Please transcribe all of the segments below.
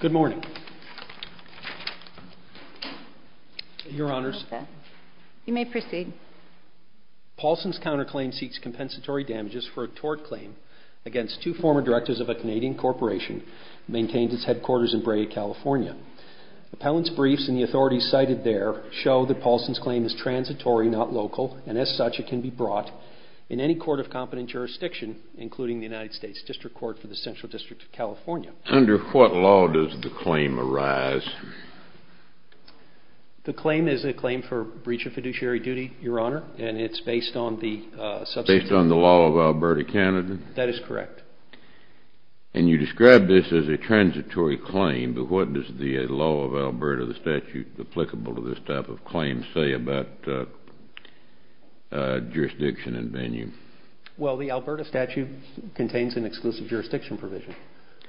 Good morning. Your Honours, you may proceed. Paulsson's counterclaim seeks compensatory damages for a tort claim against two former directors of a Canadian corporation maintained its headquarters in Braga, California. Appellants' briefs and the authorities cited there show that Paulsson's claim is transitory, not local, and as such it can be brought in any court of competent jurisdiction, including the United States District Court for the Central District of California. Under what law does the claim arise? The claim is a claim for breach of fiduciary duty, Your Honour, and it's based on the substituent... Based on the law of Alberta, Canada? That is correct. And you describe this as a transitory claim, but what does the law of Alberta, the statute applicable to this type of claim say about jurisdiction and venue? Well, the Alberta statute contains an exclusive jurisdiction provision,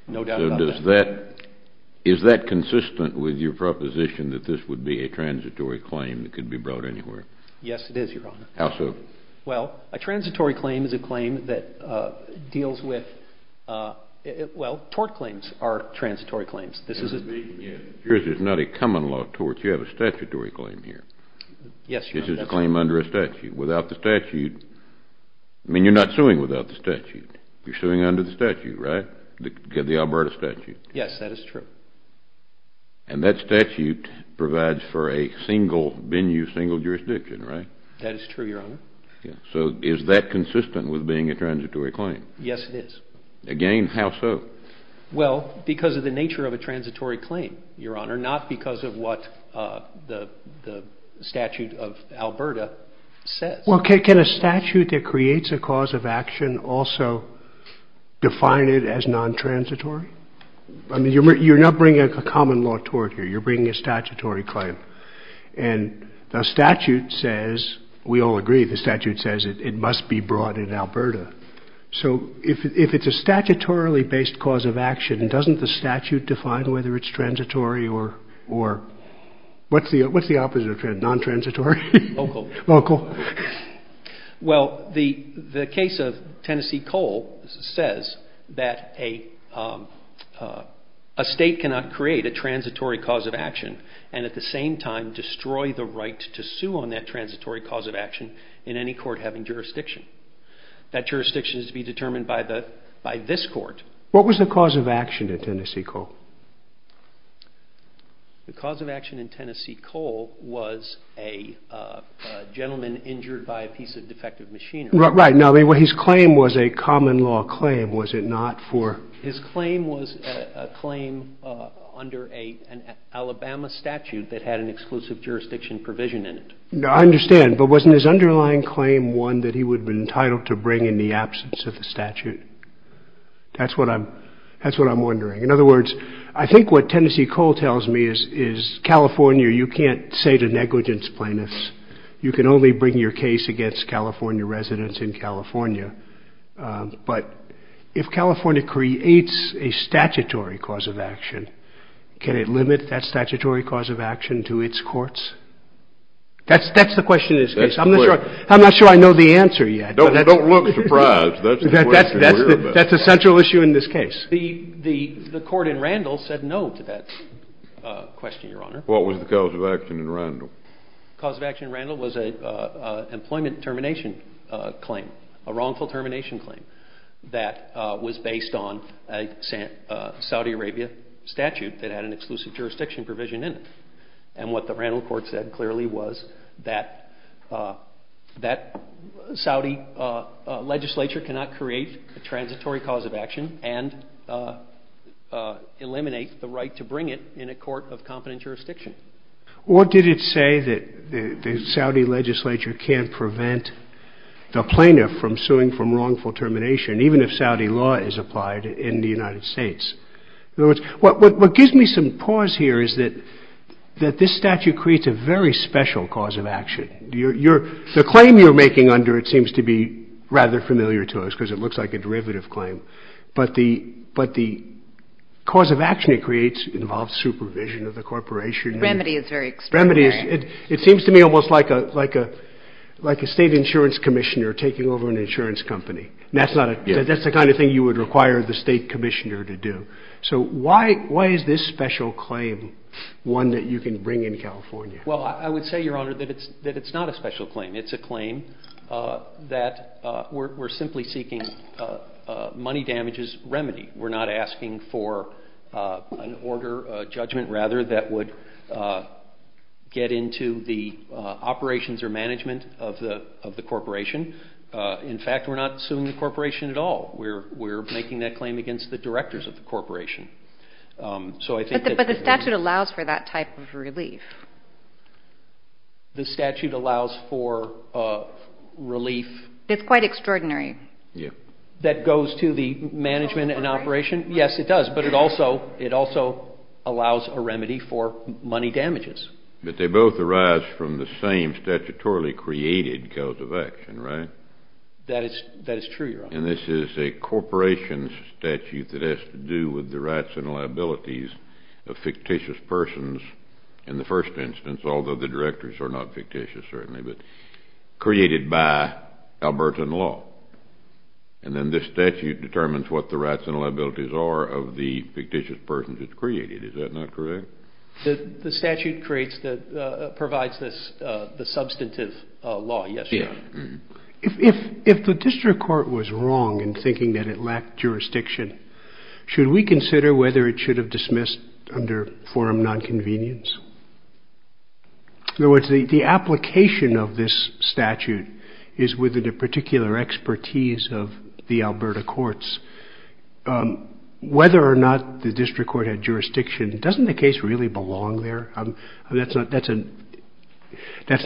no doubt about that. Is that consistent with your proposition that this would be a transitory claim that could be brought anywhere? Yes, it is, Your Honour. How so? Well, a transitory claim is a claim that deals with... Well, tort claims are transitory claims. Yes, this is a... This is not a common law tort, you have a statutory claim here. Yes, Your Honour. This is a claim under a statute, without the statute... I mean, you're not suing without the statute, you're suing under the statute, right? The Alberta statute. Yes, that is true. And that statute provides for a single venue, single jurisdiction, right? That is true, Your Honour. So is that consistent with being a transitory claim? Yes, it is. Again, how so? Well, because of the nature of a transitory claim, Your Honour, not because of what the statute of Alberta says. Well, can a statute that creates a cause of action also define it as non-transitory? I mean, you're not bringing a common law tort here, you're bringing a statutory claim. And the statute says, we all agree, the statute says it must be brought in Alberta. So if it's a statutorily-based cause of action, doesn't the statute define whether it's transitory or... what's the opposite of non-transitory? Local. Local. Well, the case of Tennessee Coal says that a state cannot create a transitory cause of action and at the same time destroy the right to sue on that transitory cause of action in any court having jurisdiction. That jurisdiction is to be determined by this court. What was the cause of action at Tennessee Coal? The cause of action in Tennessee Coal was a gentleman injured by a piece of defective machinery. Right. Now, his claim was a common law claim, was it not, for... His claim was a claim under an Alabama statute that had an exclusive jurisdiction provision in it. I understand, but wasn't his underlying claim one that he would have been entitled to bring in the absence of the statute? That's what I'm wondering. In other words, I think what Tennessee Coal tells me is, California, you can't say to negligence plaintiffs, you can only bring your case against California residents in California. But if California creates a statutory cause of action, can it limit that statutory cause of action to its courts? That's the question in this case. I'm not sure I know the answer yet. Don't look surprised. That's the question we're about. That's a central issue in this case. The court in Randall said no to that question, Your Honor. What was the cause of action in Randall? The cause of action in Randall was an employment termination claim, a wrongful termination claim that was based on a Saudi Arabia statute that had an exclusive jurisdiction provision in it. And what the Randall court said clearly was that Saudi legislature cannot create a transitory cause of action and eliminate the right to bring it in a court of competent jurisdiction. What did it say that the Saudi legislature can't prevent the plaintiff from suing from wrongful termination, even if Saudi law is applied in the United States? In other words, what gives me some pause here is that this statute creates a very special cause of action. The claim you're making under it seems to be rather familiar to us because it looks like a derivative claim. But the cause of action it creates involves supervision of the corporation. Remedy is very extraordinary. It seems to me almost like a state insurance commissioner taking over an insurance company. That's the kind of thing you would require the state commissioner to do. So why is this special claim one that you can bring in California? Well, I would say, Your Honor, that it's not a special claim. It's a claim that we're simply seeking money damages remedy. We're not asking for an order, a judgment rather, that would get into the operations or management of the corporation. In fact, we're not suing the corporation at all. We're making that claim against the directors of the corporation. But the statute allows for that type of relief. The statute allows for relief. It's quite extraordinary. That goes to the management and operation? Yes, it does. But it also allows a remedy for money damages. But they both arise from the same statutorily created cause of action, right? That is true, Your Honor. And this is a corporation's statute that has to do with the rights and liabilities of fictitious persons in the first instance, although the directors are not fictitious certainly, but created by Albertan law. And then this statute determines what the rights and liabilities are of the fictitious persons it's created. Is that not correct? If the district court was wrong in thinking that it lacked jurisdiction, should we consider whether it should have dismissed under forum nonconvenience? In other words, the application of this statute is within the particular expertise of the Alberta courts. Whether or not the district court had jurisdiction, doesn't the case really belong there? That's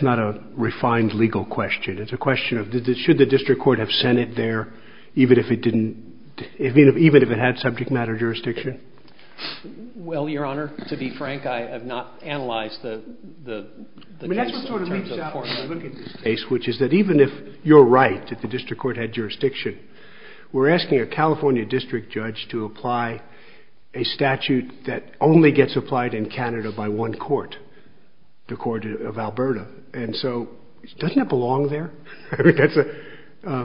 not a refined legal question. It's a question of should the district court have sent it there even if it didn't, even if it had subject matter jurisdiction? Well, Your Honor, to be frank, I have not analyzed the case. I mean, that's what sort of leaps out when you look at this case, which is that even if you're right that the district court had jurisdiction, we're asking a California district judge to apply a statute that only gets applied in Canada by one court, the court of Alberta. And so doesn't it belong there? I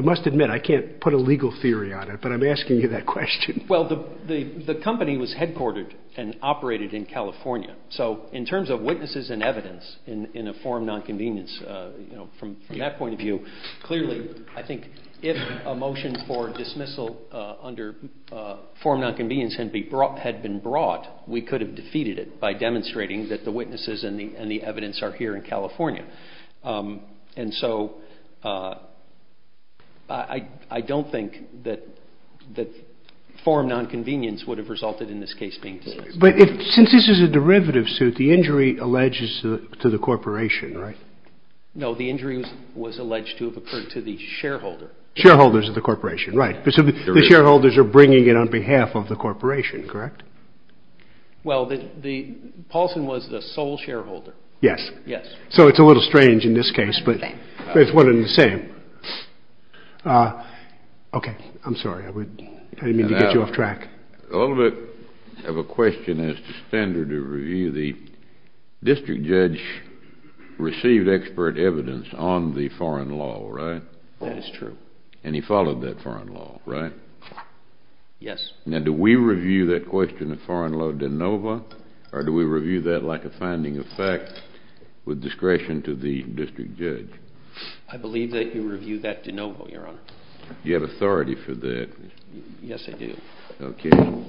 must admit I can't put a legal theory on it, but I'm asking you that question. Well, the company was headquartered and operated in California. So in terms of witnesses and evidence in a forum nonconvenience, from that point of view, clearly I think if a motion for dismissal under forum nonconvenience had been brought, we could have defeated it by demonstrating that the witnesses and the evidence are here in California. And so I don't think that forum nonconvenience would have resulted in this case being dismissed. But since this is a derivative suit, the injury alleges to the corporation, right? No, the injury was alleged to have occurred to the shareholder. Shareholders of the corporation, right. So the shareholders are bringing it on behalf of the corporation, correct? Well, Paulson was the sole shareholder. Yes. Yes. So it's a little strange in this case, but it's one and the same. Okay. I'm sorry. I didn't mean to get you off track. A little bit of a question as to standard of review. The district judge received expert evidence on the foreign law, right? That is true. And he followed that foreign law, right? Yes. Now, do we review that question of foreign law de novo, or do we review that like a finding of fact with discretion to the district judge? I believe that you review that de novo, Your Honor. Do you have authority for that? Yes, I do. Okay. Thank you.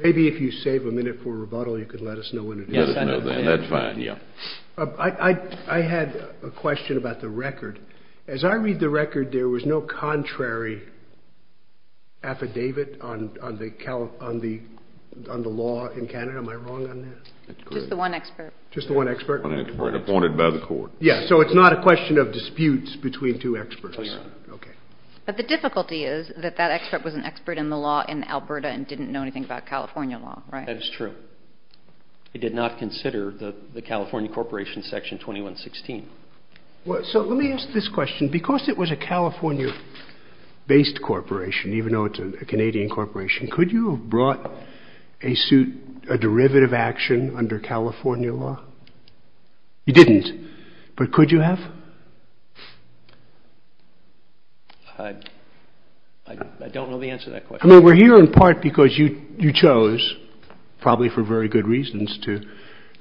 Maybe if you save a minute for rebuttal, you could let us know what it is. Yes, I know that. That's fine. Yeah. I had a question about the record. As I read the record, there was no contrary affidavit on the law in Canada. Am I wrong on that? Just the one expert. Just the one expert? Yes. So it's not a question of disputes between two experts? No, Your Honor. Okay. But the difficulty is that that expert was an expert in the law in Alberta and didn't know anything about California law, right? That is true. He did not consider the California Corporation Section 2116. So let me ask this question. Because it was a California-based corporation, even though it's a Canadian corporation, could you have brought a derivative action under California law? You didn't. But could you have? I don't know the answer to that question. I mean, we're here in part because you chose, probably for very good reasons, to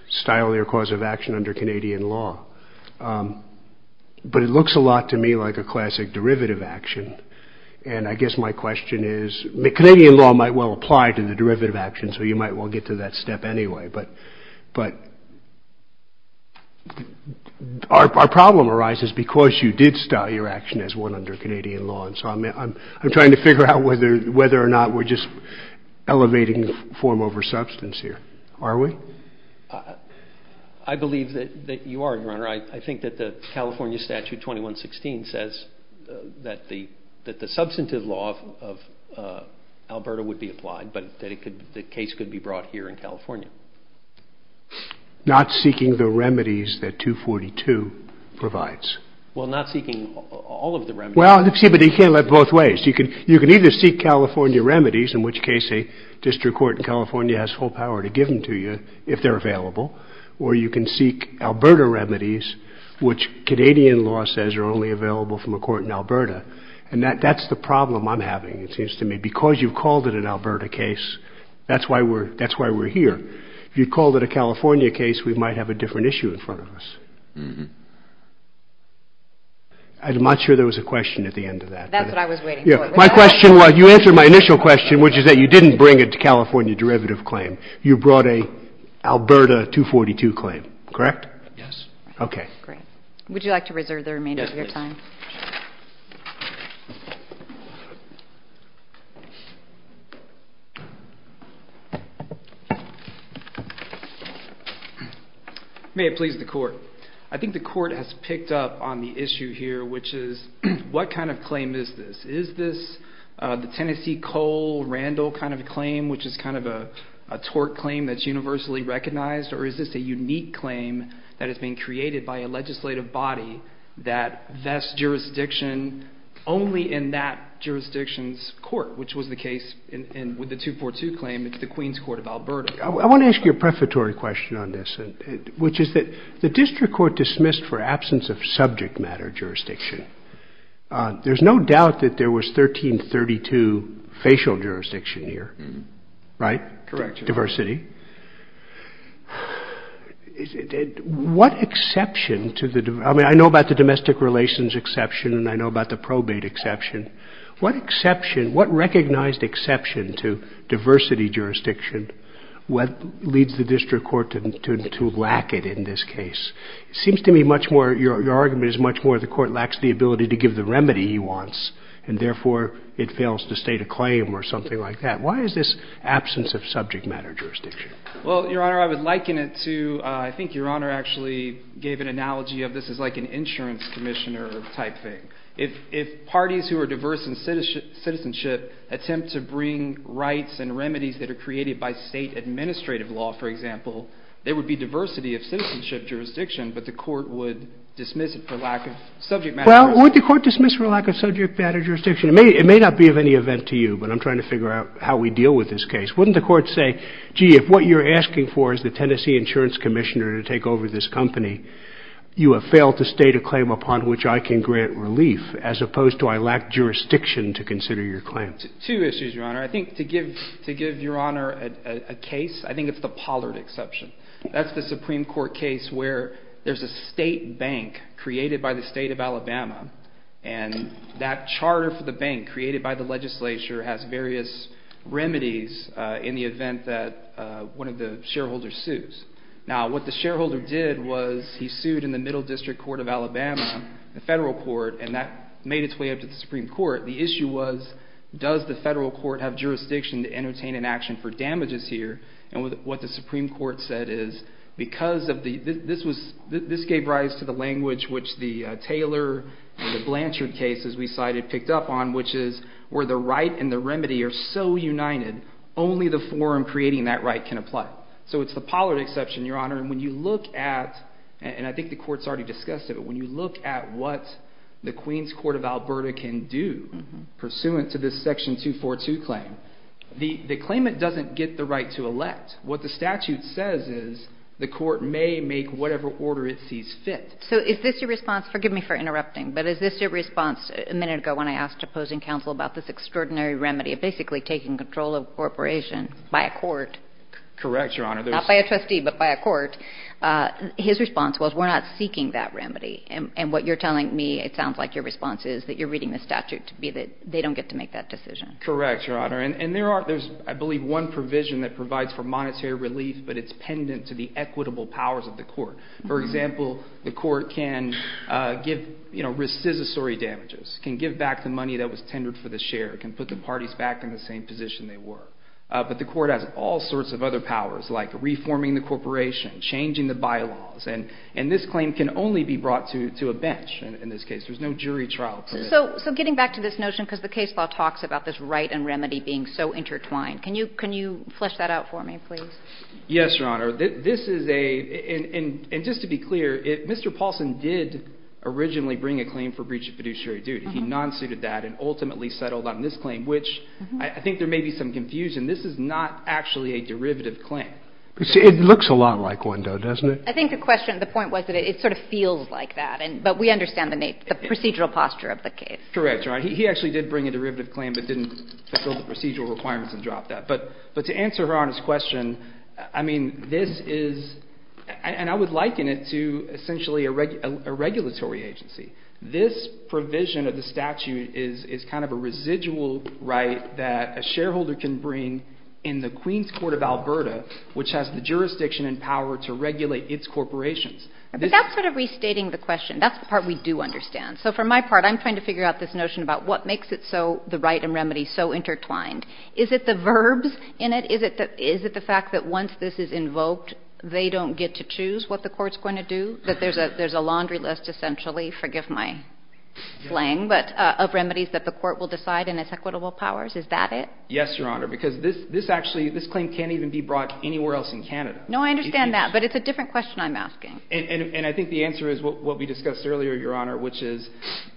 style your cause of action under Canadian law. But it looks a lot to me like a classic derivative action. And I guess my question is, Canadian law might well apply to the derivative action, so you might well get to that step anyway. But our problem arises because you did style your action as one under Canadian law. And so I'm trying to figure out whether or not we're just elevating form over substance here. Are we? I believe that you are, Your Honor. I think that the California Statute 2116 says that the substantive law of Alberta would be applied, but that the case could be brought here in California. Not seeking the remedies that 242 provides. Well, not seeking all of the remedies. Well, see, but you can't let both ways. You can either seek California remedies, in which case a district court in California has full power to give them to you, if they're available, or you can seek Alberta remedies, which Canadian law says are only available from a court in Alberta. And that's the problem I'm having, it seems to me. Because you called it an Alberta case, that's why we're here. If you called it a California case, we might have a different issue in front of us. I'm not sure there was a question at the end of that. That's what I was waiting for. My question was, you answered my initial question, which is that you didn't bring a California derivative claim. You brought an Alberta 242 claim, correct? Yes. Okay. Great. Would you like to reserve the remainder of your time? Yes, please. May it please the Court. I think the Court has picked up on the issue here, which is, what kind of claim is this? Is this the Tennessee, Cole, Randall kind of claim, which is kind of a tort claim that's universally recognized? Or is this a unique claim that has been created by a legislative body that vests jurisdiction only in that jurisdiction's court, which was the case with the 242 claim. It's the Queen's Court of Alberta. I want to ask you a prefatory question on this, which is that the district court dismissed for absence of subject matter jurisdiction. There's no doubt that there was 1332 facial jurisdiction here, right? Correct. Diversity. What exception to the, I mean, I know about the domestic relations exception, and I know about the probate exception. What exception, what recognized exception to diversity jurisdiction leads the district court to lack it in this case? It seems to me much more, your argument is much more the court lacks the ability to give the remedy he wants, and therefore it fails to state a claim or something like that. Why is this absence of subject matter jurisdiction? Well, Your Honor, I would liken it to, I think Your Honor actually gave an analogy of, this is like an insurance commissioner type thing. If parties who are diverse in citizenship attempt to bring rights and remedies that are created by state administrative law, for example, there would be diversity of citizenship jurisdiction, but the court would dismiss it for lack of subject matter. Well, would the court dismiss for lack of subject matter jurisdiction? It may not be of any event to you, but I'm trying to figure out how we deal with this case. Wouldn't the court say, gee, if what you're asking for is the Tennessee insurance commissioner to take over this company, you have failed to state a claim upon which I can grant relief, as opposed to I lack jurisdiction to consider your claim. Two issues, Your Honor. I think to give Your Honor a case, I think it's the Pollard exception. That's the Supreme Court case where there's a state bank created by the state of Alabama, and that charter for the bank created by the legislature has various remedies in the event that one of the shareholders sues. Now, what the shareholder did was he sued in the Middle District Court of Alabama, the federal court, and that made its way up to the Supreme Court. The issue was does the federal court have jurisdiction to entertain an action for damages here, and what the Supreme Court said is because of the – this gave rise to the language which the Taylor and the Blanchard cases we cited picked up on, which is where the right and the remedy are so united, only the forum creating that right can apply. So it's the Pollard exception, Your Honor, and when you look at – and I think the court's already discussed it – when you look at what the Queens Court of Alberta can do pursuant to this Section 242 claim, the claimant doesn't get the right to elect. What the statute says is the court may make whatever order it sees fit. So is this your response – forgive me for interrupting – but is this your response a minute ago when I asked opposing counsel about this extraordinary remedy of basically taking control of a corporation by a court? Correct, Your Honor. Not by a trustee, but by a court. His response was we're not seeking that remedy, and what you're telling me, it sounds like your response is that you're reading the statute to be that they don't get to make that decision. Correct, Your Honor. And there are – there's, I believe, one provision that provides for monetary relief, but it's pendant to the equitable powers of the court. For example, the court can give, you know, rescissory damages, can give back the money that was tendered for the share, can put the parties back in the same position they were. But the court has all sorts of other powers, like reforming the corporation, changing the bylaws, and this claim can only be brought to a bench in this case. There's no jury trial for this. So getting back to this notion, because the case law talks about this right and remedy being so intertwined, can you flesh that out for me, please? Yes, Your Honor. This is a – and just to be clear, Mr. Paulson did originally bring a claim for breach of fiduciary duty. He non-suited that and ultimately settled on this claim, which I think there may be some confusion. This is not actually a derivative claim. It looks a lot like one, though, doesn't it? I think the question – the point was that it sort of feels like that, but we understand the procedural posture of the case. Correct, Your Honor. He actually did bring a derivative claim but didn't fulfill the procedural requirements and drop that. But to answer Your Honor's question, I mean, this is – and I would liken it to essentially a regulatory agency. This provision of the statute is kind of a residual right that a shareholder can bring in the Queens Court of Alberta, which has the jurisdiction and power to regulate its corporations. But that's sort of restating the question. That's the part we do understand. So for my part, I'm trying to figure out this notion about what makes it so – the right and remedy so intertwined. Is it the verbs in it? Is it the fact that once this is invoked, they don't get to choose what the court's going to do, that there's a laundry list essentially – forgive my slang – of remedies that the court will decide in its equitable powers? Is that it? Yes, Your Honor, because this actually – this claim can't even be brought anywhere else in Canada. No, I understand that, but it's a different question I'm asking. And I think the answer is what we discussed earlier, Your Honor, which is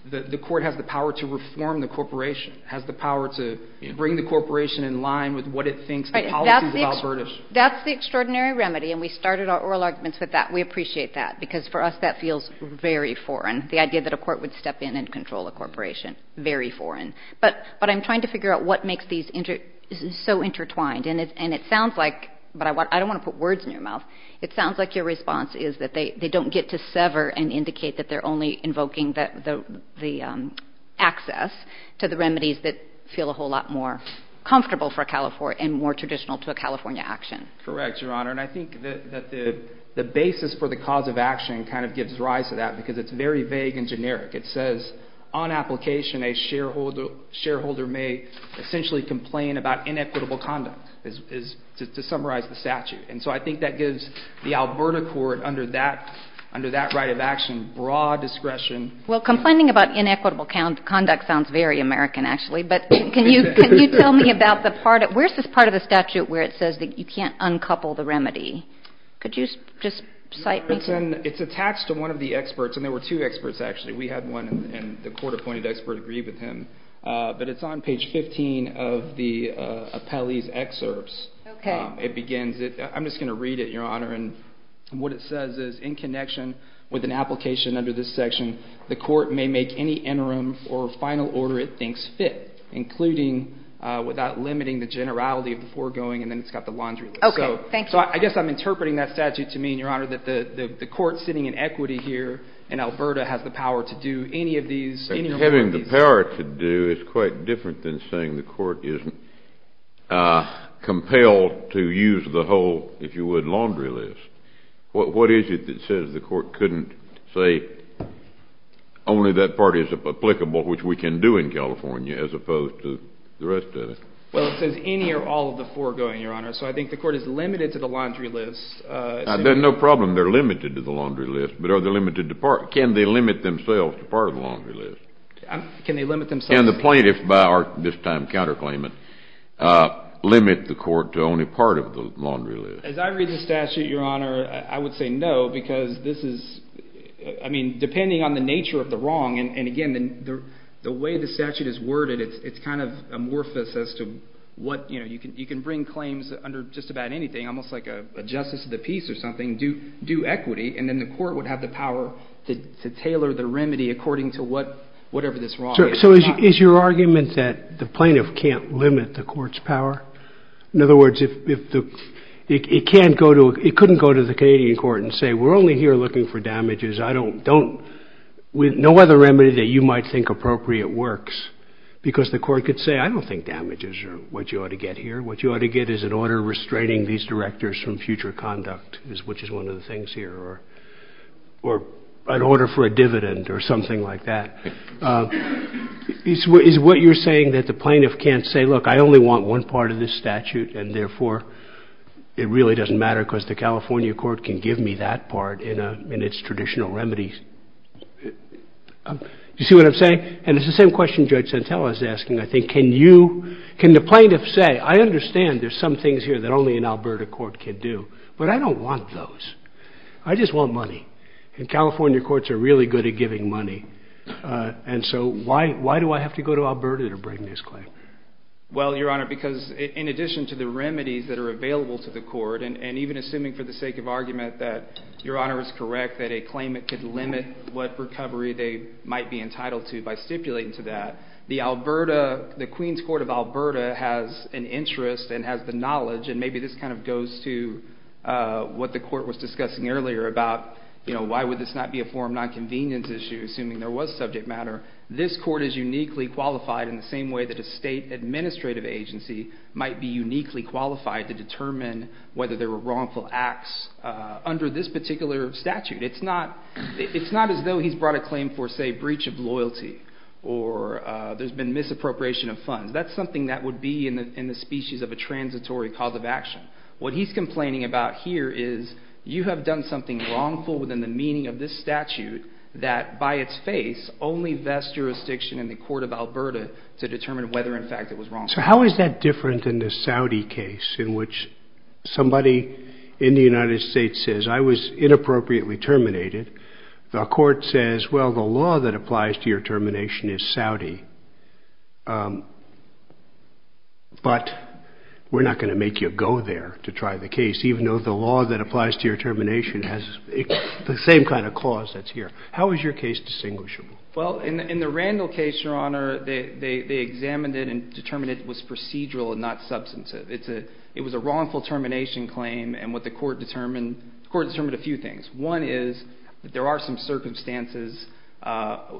the court has the power to reform the corporation, has the power to bring the corporation in line with what it thinks the policies of Alberta should be. That's the extraordinary remedy, and we started our oral arguments with that. We appreciate that, because for us that feels very foreign, the idea that a court would step in and control a corporation. Very foreign. But I'm trying to figure out what makes these so intertwined. And it sounds like – but I don't want to put words in your mouth. It sounds like your response is that they don't get to sever and indicate that they're only invoking the access to the remedies that feel a whole lot more comfortable for California and more traditional to a California action. Correct, Your Honor. And I think that the basis for the cause of action kind of gives rise to that, because it's very vague and generic. It says on application a shareholder may essentially complain about inequitable conduct, to summarize the statute. And so I think that gives the Alberta court under that right of action broad discretion. Well, complaining about inequitable conduct sounds very American, actually. But can you tell me about the part – where's this part of the statute where it says that you can't uncouple the remedy? Could you just cite me? It's attached to one of the experts, and there were two experts, actually. We had one, and the court-appointed expert agreed with him. But it's on page 15 of the appellee's excerpts. Okay. It begins – I'm just going to read it, Your Honor. And what it says is, in connection with an application under this section, the court may make any interim or final order it thinks fit, including without limiting the generality of the foregoing, and then it's got the laundry list. Okay, thank you. So I guess I'm interpreting that statute to mean, Your Honor, that the court sitting in equity here in Alberta has the power to do any of these. Having the power to do is quite different than saying the court isn't compelled to use the whole, if you would, laundry list. What is it that says the court couldn't say only that part is applicable, which we can do in California, as opposed to the rest of it? Well, it says any or all of the foregoing, Your Honor. So I think the court is limited to the laundry list. No problem. They're limited to the laundry list. Can they limit themselves to part of the laundry list? Can they limit themselves? Can the plaintiff, by our this time counterclaimant, limit the court to only part of the laundry list? As I read the statute, Your Honor, I would say no, because this is – I mean, depending on the nature of the wrong, and again, the way the statute is worded, it's kind of amorphous as to what – you can bring claims under just about anything, almost like a justice of the peace or something, due equity, and then the court would have the power to tailor the remedy according to whatever this wrong is. So is your argument that the plaintiff can't limit the court's power? In other words, it can't go to – it couldn't go to the Canadian court and say we're only here looking for damages. I don't – no other remedy that you might think appropriate works, because the court could say, I don't think damages are what you ought to get here. What you ought to get is an order restraining these directors from future conduct, which is one of the things here, or an order for a dividend or something like that. Is what you're saying that the plaintiff can't say, look, I only want one part of this statute, and therefore it really doesn't matter because the California court can give me that part in its traditional remedies. Do you see what I'm saying? And it's the same question Judge Santella is asking, I think. Can you – can the plaintiff say, I understand there's some things here that only an Alberta court can do, but I don't want those. I just want money, and California courts are really good at giving money, and so why do I have to go to Alberta to bring this claim? Well, Your Honor, because in addition to the remedies that are available to the court, and even assuming for the sake of argument that Your Honor is correct, that a claimant could limit what recovery they might be entitled to by stipulating to that, the Alberta – the Queens Court of Alberta has an interest and has the knowledge, and maybe this kind of goes to what the court was discussing earlier about, you know, why would this not be a form of nonconvenience issue, assuming there was subject matter. This court is uniquely qualified in the same way that a state administrative agency might be uniquely qualified to determine whether there were wrongful acts under this particular statute. It's not – it's not as though he's brought a claim for, say, breach of loyalty, or there's been misappropriation of funds. That's something that would be in the species of a transitory cause of action. What he's complaining about here is you have done something wrongful within the meaning of this statute that by its face only vests jurisdiction in the court of Alberta to determine whether, in fact, it was wrongful. So how is that different than the Saudi case in which somebody in the United States says, I was inappropriately terminated. The court says, well, the law that applies to your termination is Saudi, but we're not going to make you go there to try the case, even though the law that applies to your termination has the same kind of clause that's here. How is your case distinguishable? Well, in the Randall case, Your Honor, they examined it and determined it was procedural and not substantive. It was a wrongful termination claim, and what the court determined – the court determined a few things. One is that there are some circumstances –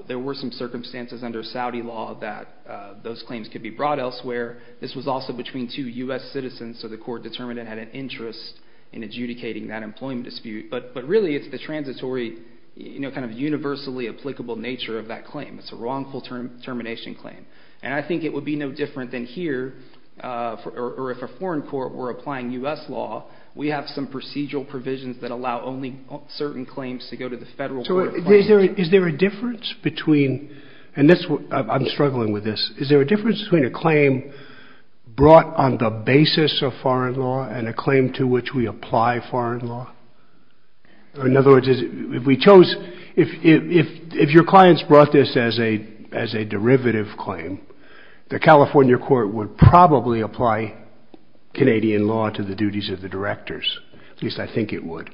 there were some circumstances under Saudi law that those claims could be brought elsewhere. This was also between two U.S. citizens, so the court determined it had an interest in adjudicating that employment dispute. But really it's the transitory, kind of universally applicable nature of that claim. It's a wrongful termination claim. And I think it would be no different than here, or if a foreign court were applying U.S. law, we have some procedural provisions that allow only certain claims to go to the federal court. Is there a difference between – and I'm struggling with this – is there a difference between a claim brought on the basis of foreign law and a claim to which we apply foreign law? In other words, if we chose – if your clients brought this as a derivative claim, the California court would probably apply Canadian law to the duties of the directors, at least I think it would,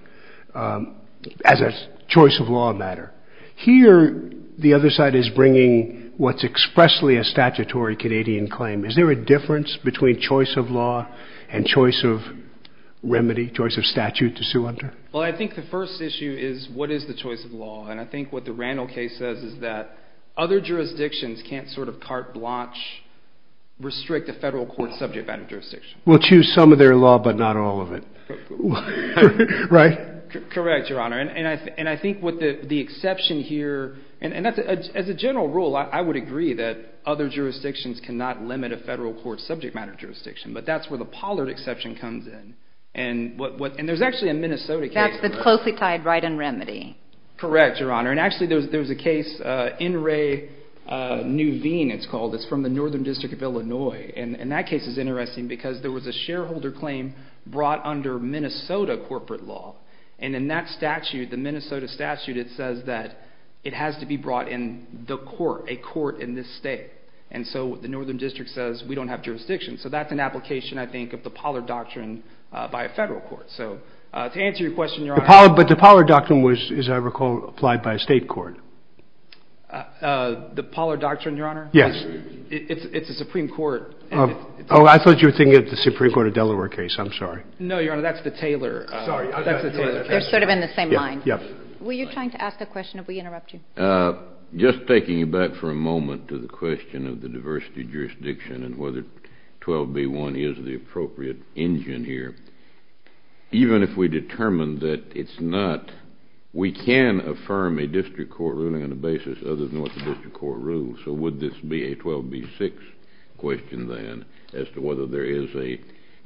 as a choice-of-law matter. Here, the other side is bringing what's expressly a statutory Canadian claim. Is there a difference between choice-of-law and choice-of-remedy, choice-of-statute to sue under? Well, I think the first issue is what is the choice-of-law, and I think what the Randall case says is that other jurisdictions can't sort of carte blanche restrict a federal court subject matter jurisdiction. We'll choose some of their law, but not all of it, right? Correct, Your Honor, and I think what the exception here – and as a general rule, I would agree that other jurisdictions cannot limit a federal court subject matter jurisdiction, but that's where the Pollard exception comes in, and there's actually a Minnesota case – That's the closely tied right and remedy. Correct, Your Honor, and actually there's a case, N. Ray Nuveen, it's called. It's from the Northern District of Illinois, and that case is interesting because there was a shareholder claim brought under Minnesota corporate law, and in that statute, the Minnesota statute, it says that it has to be brought in the court, a court in this state, and so the Northern District says we don't have jurisdiction. So that's an application, I think, of the Pollard Doctrine by a federal court. So to answer your question, Your Honor – But the Pollard Doctrine was, as I recall, applied by a state court. The Pollard Doctrine, Your Honor? Yes. It's a Supreme Court – Oh, I thought you were thinking of the Supreme Court of Delaware case. I'm sorry. No, Your Honor, that's the Taylor – They're sort of in the same line. Yes. Were you trying to ask a question? Did we interrupt you? Just taking you back for a moment to the question of the diversity jurisdiction and whether 12b-1 is the appropriate engine here, even if we determine that it's not, we can affirm a district court ruling on a basis other than what the district court rules. So would this be a 12b-6 question, then, as to whether there is a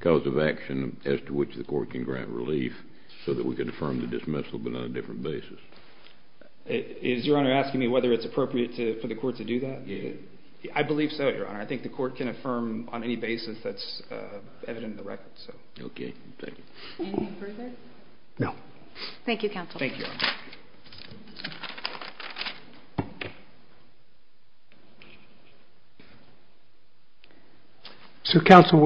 cause of action as to which the court can grant relief so that we can affirm the dismissal but on a different basis? Is Your Honor asking me whether it's appropriate for the court to do that? Yes. I believe so, Your Honor. I think the court can affirm on any basis that's evident in the record. Okay. Thank you. No. Thank you, Counsel. Thank you, Your Honor. So, Counsel,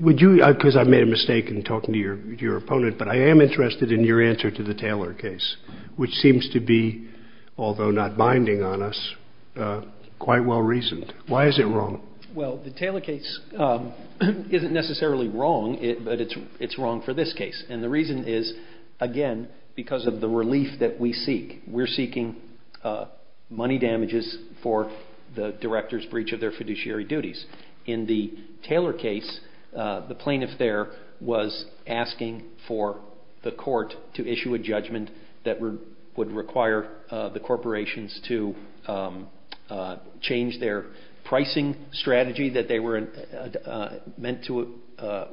would you – because I made a mistake in talking to your opponent, but I am interested in your answer to the Taylor case, which seems to be, although not binding on us, quite well reasoned. Why is it wrong? Well, the Taylor case isn't necessarily wrong, but it's wrong for this case. And the reason is, again, because of the relief that we seek. We're seeking money damages for the director's breach of their fiduciary duties in the Taylor case. The plaintiff there was asking for the court to issue a judgment that would require the corporations to change their pricing strategy that they were meant to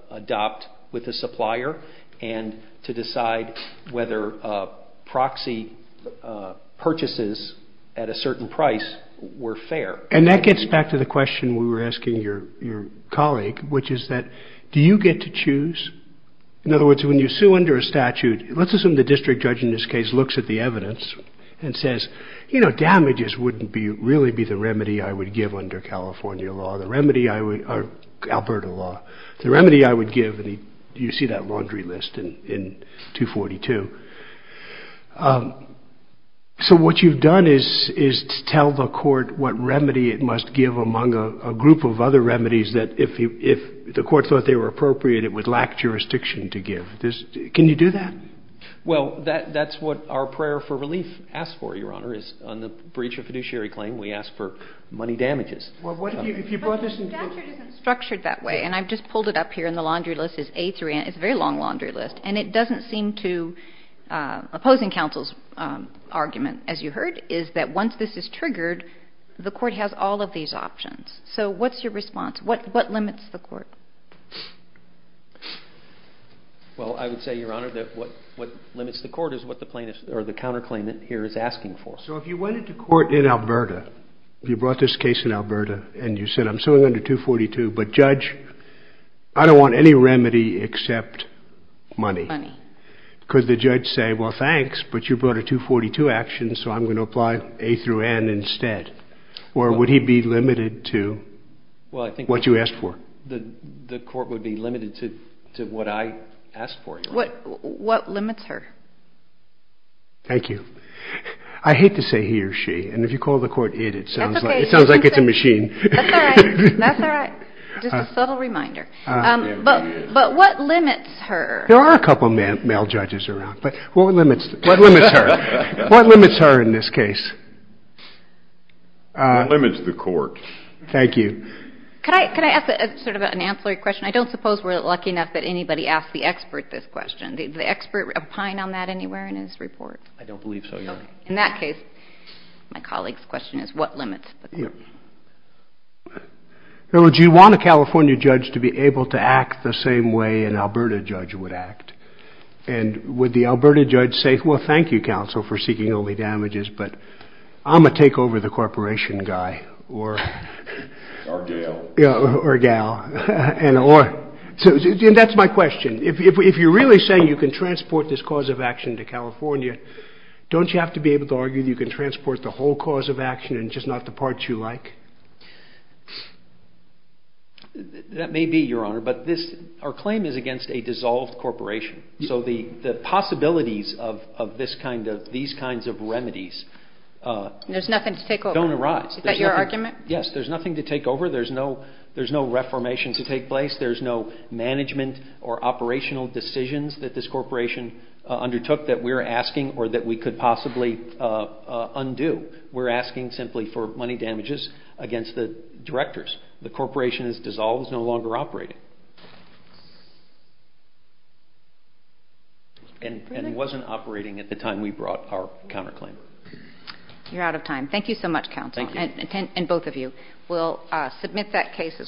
adopt with the supplier and to decide whether proxy purchases at a certain price were fair. And that gets back to the question we were asking your colleague, which is that do you get to choose? In other words, when you sue under a statute, let's assume the district judge in this case looks at the evidence and says, you know, damages wouldn't really be the remedy I would give under California law, the remedy I would – or Alberta law – the remedy I would give. And you see that laundry list in 242. So what you've done is to tell the court what remedy it must give among a group of other remedies that if the court thought they were appropriate, it would lack jurisdiction to give. Can you do that? Well, that's what our prayer for relief asks for, Your Honor, is on the breach of fiduciary claim we ask for money damages. Well, what if you brought this into – But the statute isn't structured that way, and I've just pulled it up here, and the laundry list is A through – it's a very long laundry list. And it doesn't seem to – opposing counsel's argument, as you heard, is that once this is triggered, the court has all of these options. So what's your response? What limits the court? Well, I would say, Your Honor, that what limits the court is what the plaintiff – or the counterclaimant here is asking for. So if you went into court in Alberta, you brought this case in Alberta, and you said I'm suing under 242, but, Judge, I don't want any remedy except money. Money. Could the judge say, well, thanks, but you brought a 242 action, so I'm going to apply A through N instead? Or would he be limited to what you asked for? The court would be limited to what I asked for, Your Honor. What limits her? Thank you. I hate to say he or she, and if you call the court it, it sounds like it's a machine. That's all right. Just a subtle reminder. But what limits her? There are a couple of male judges around, but what limits her? What limits her in this case? What limits the court? Thank you. Could I ask sort of an ancillary question? I don't suppose we're lucky enough that anybody asked the expert this question. Did the expert opine on that anywhere in his report? I don't believe so, Your Honor. In that case, my colleague's question is what limits the court? Would you want a California judge to be able to act the same way an Alberta judge would act? And would the Alberta judge say, well, thank you, counsel, for seeking only damages, but I'm going to take over the corporation guy or gal? And that's my question. If you're really saying you can transport this cause of action to California, don't you have to be able to argue that you can transport the whole cause of action and just not the parts you like? That may be, Your Honor, but our claim is against a dissolved corporation. So the possibilities of these kinds of remedies don't arise. There's nothing to take over. Is that your argument? Yes. There's nothing to take over. There's no reformation to take place. There's no management or operational decisions that this corporation undertook that we're asking or that we could possibly undo. We're asking simply for money damages against the directors. The corporation is dissolved. It's no longer operating. And it wasn't operating at the time we brought our counterclaim. You're out of time. Thank you so much, counsel, and both of you. We'll submit that case as well.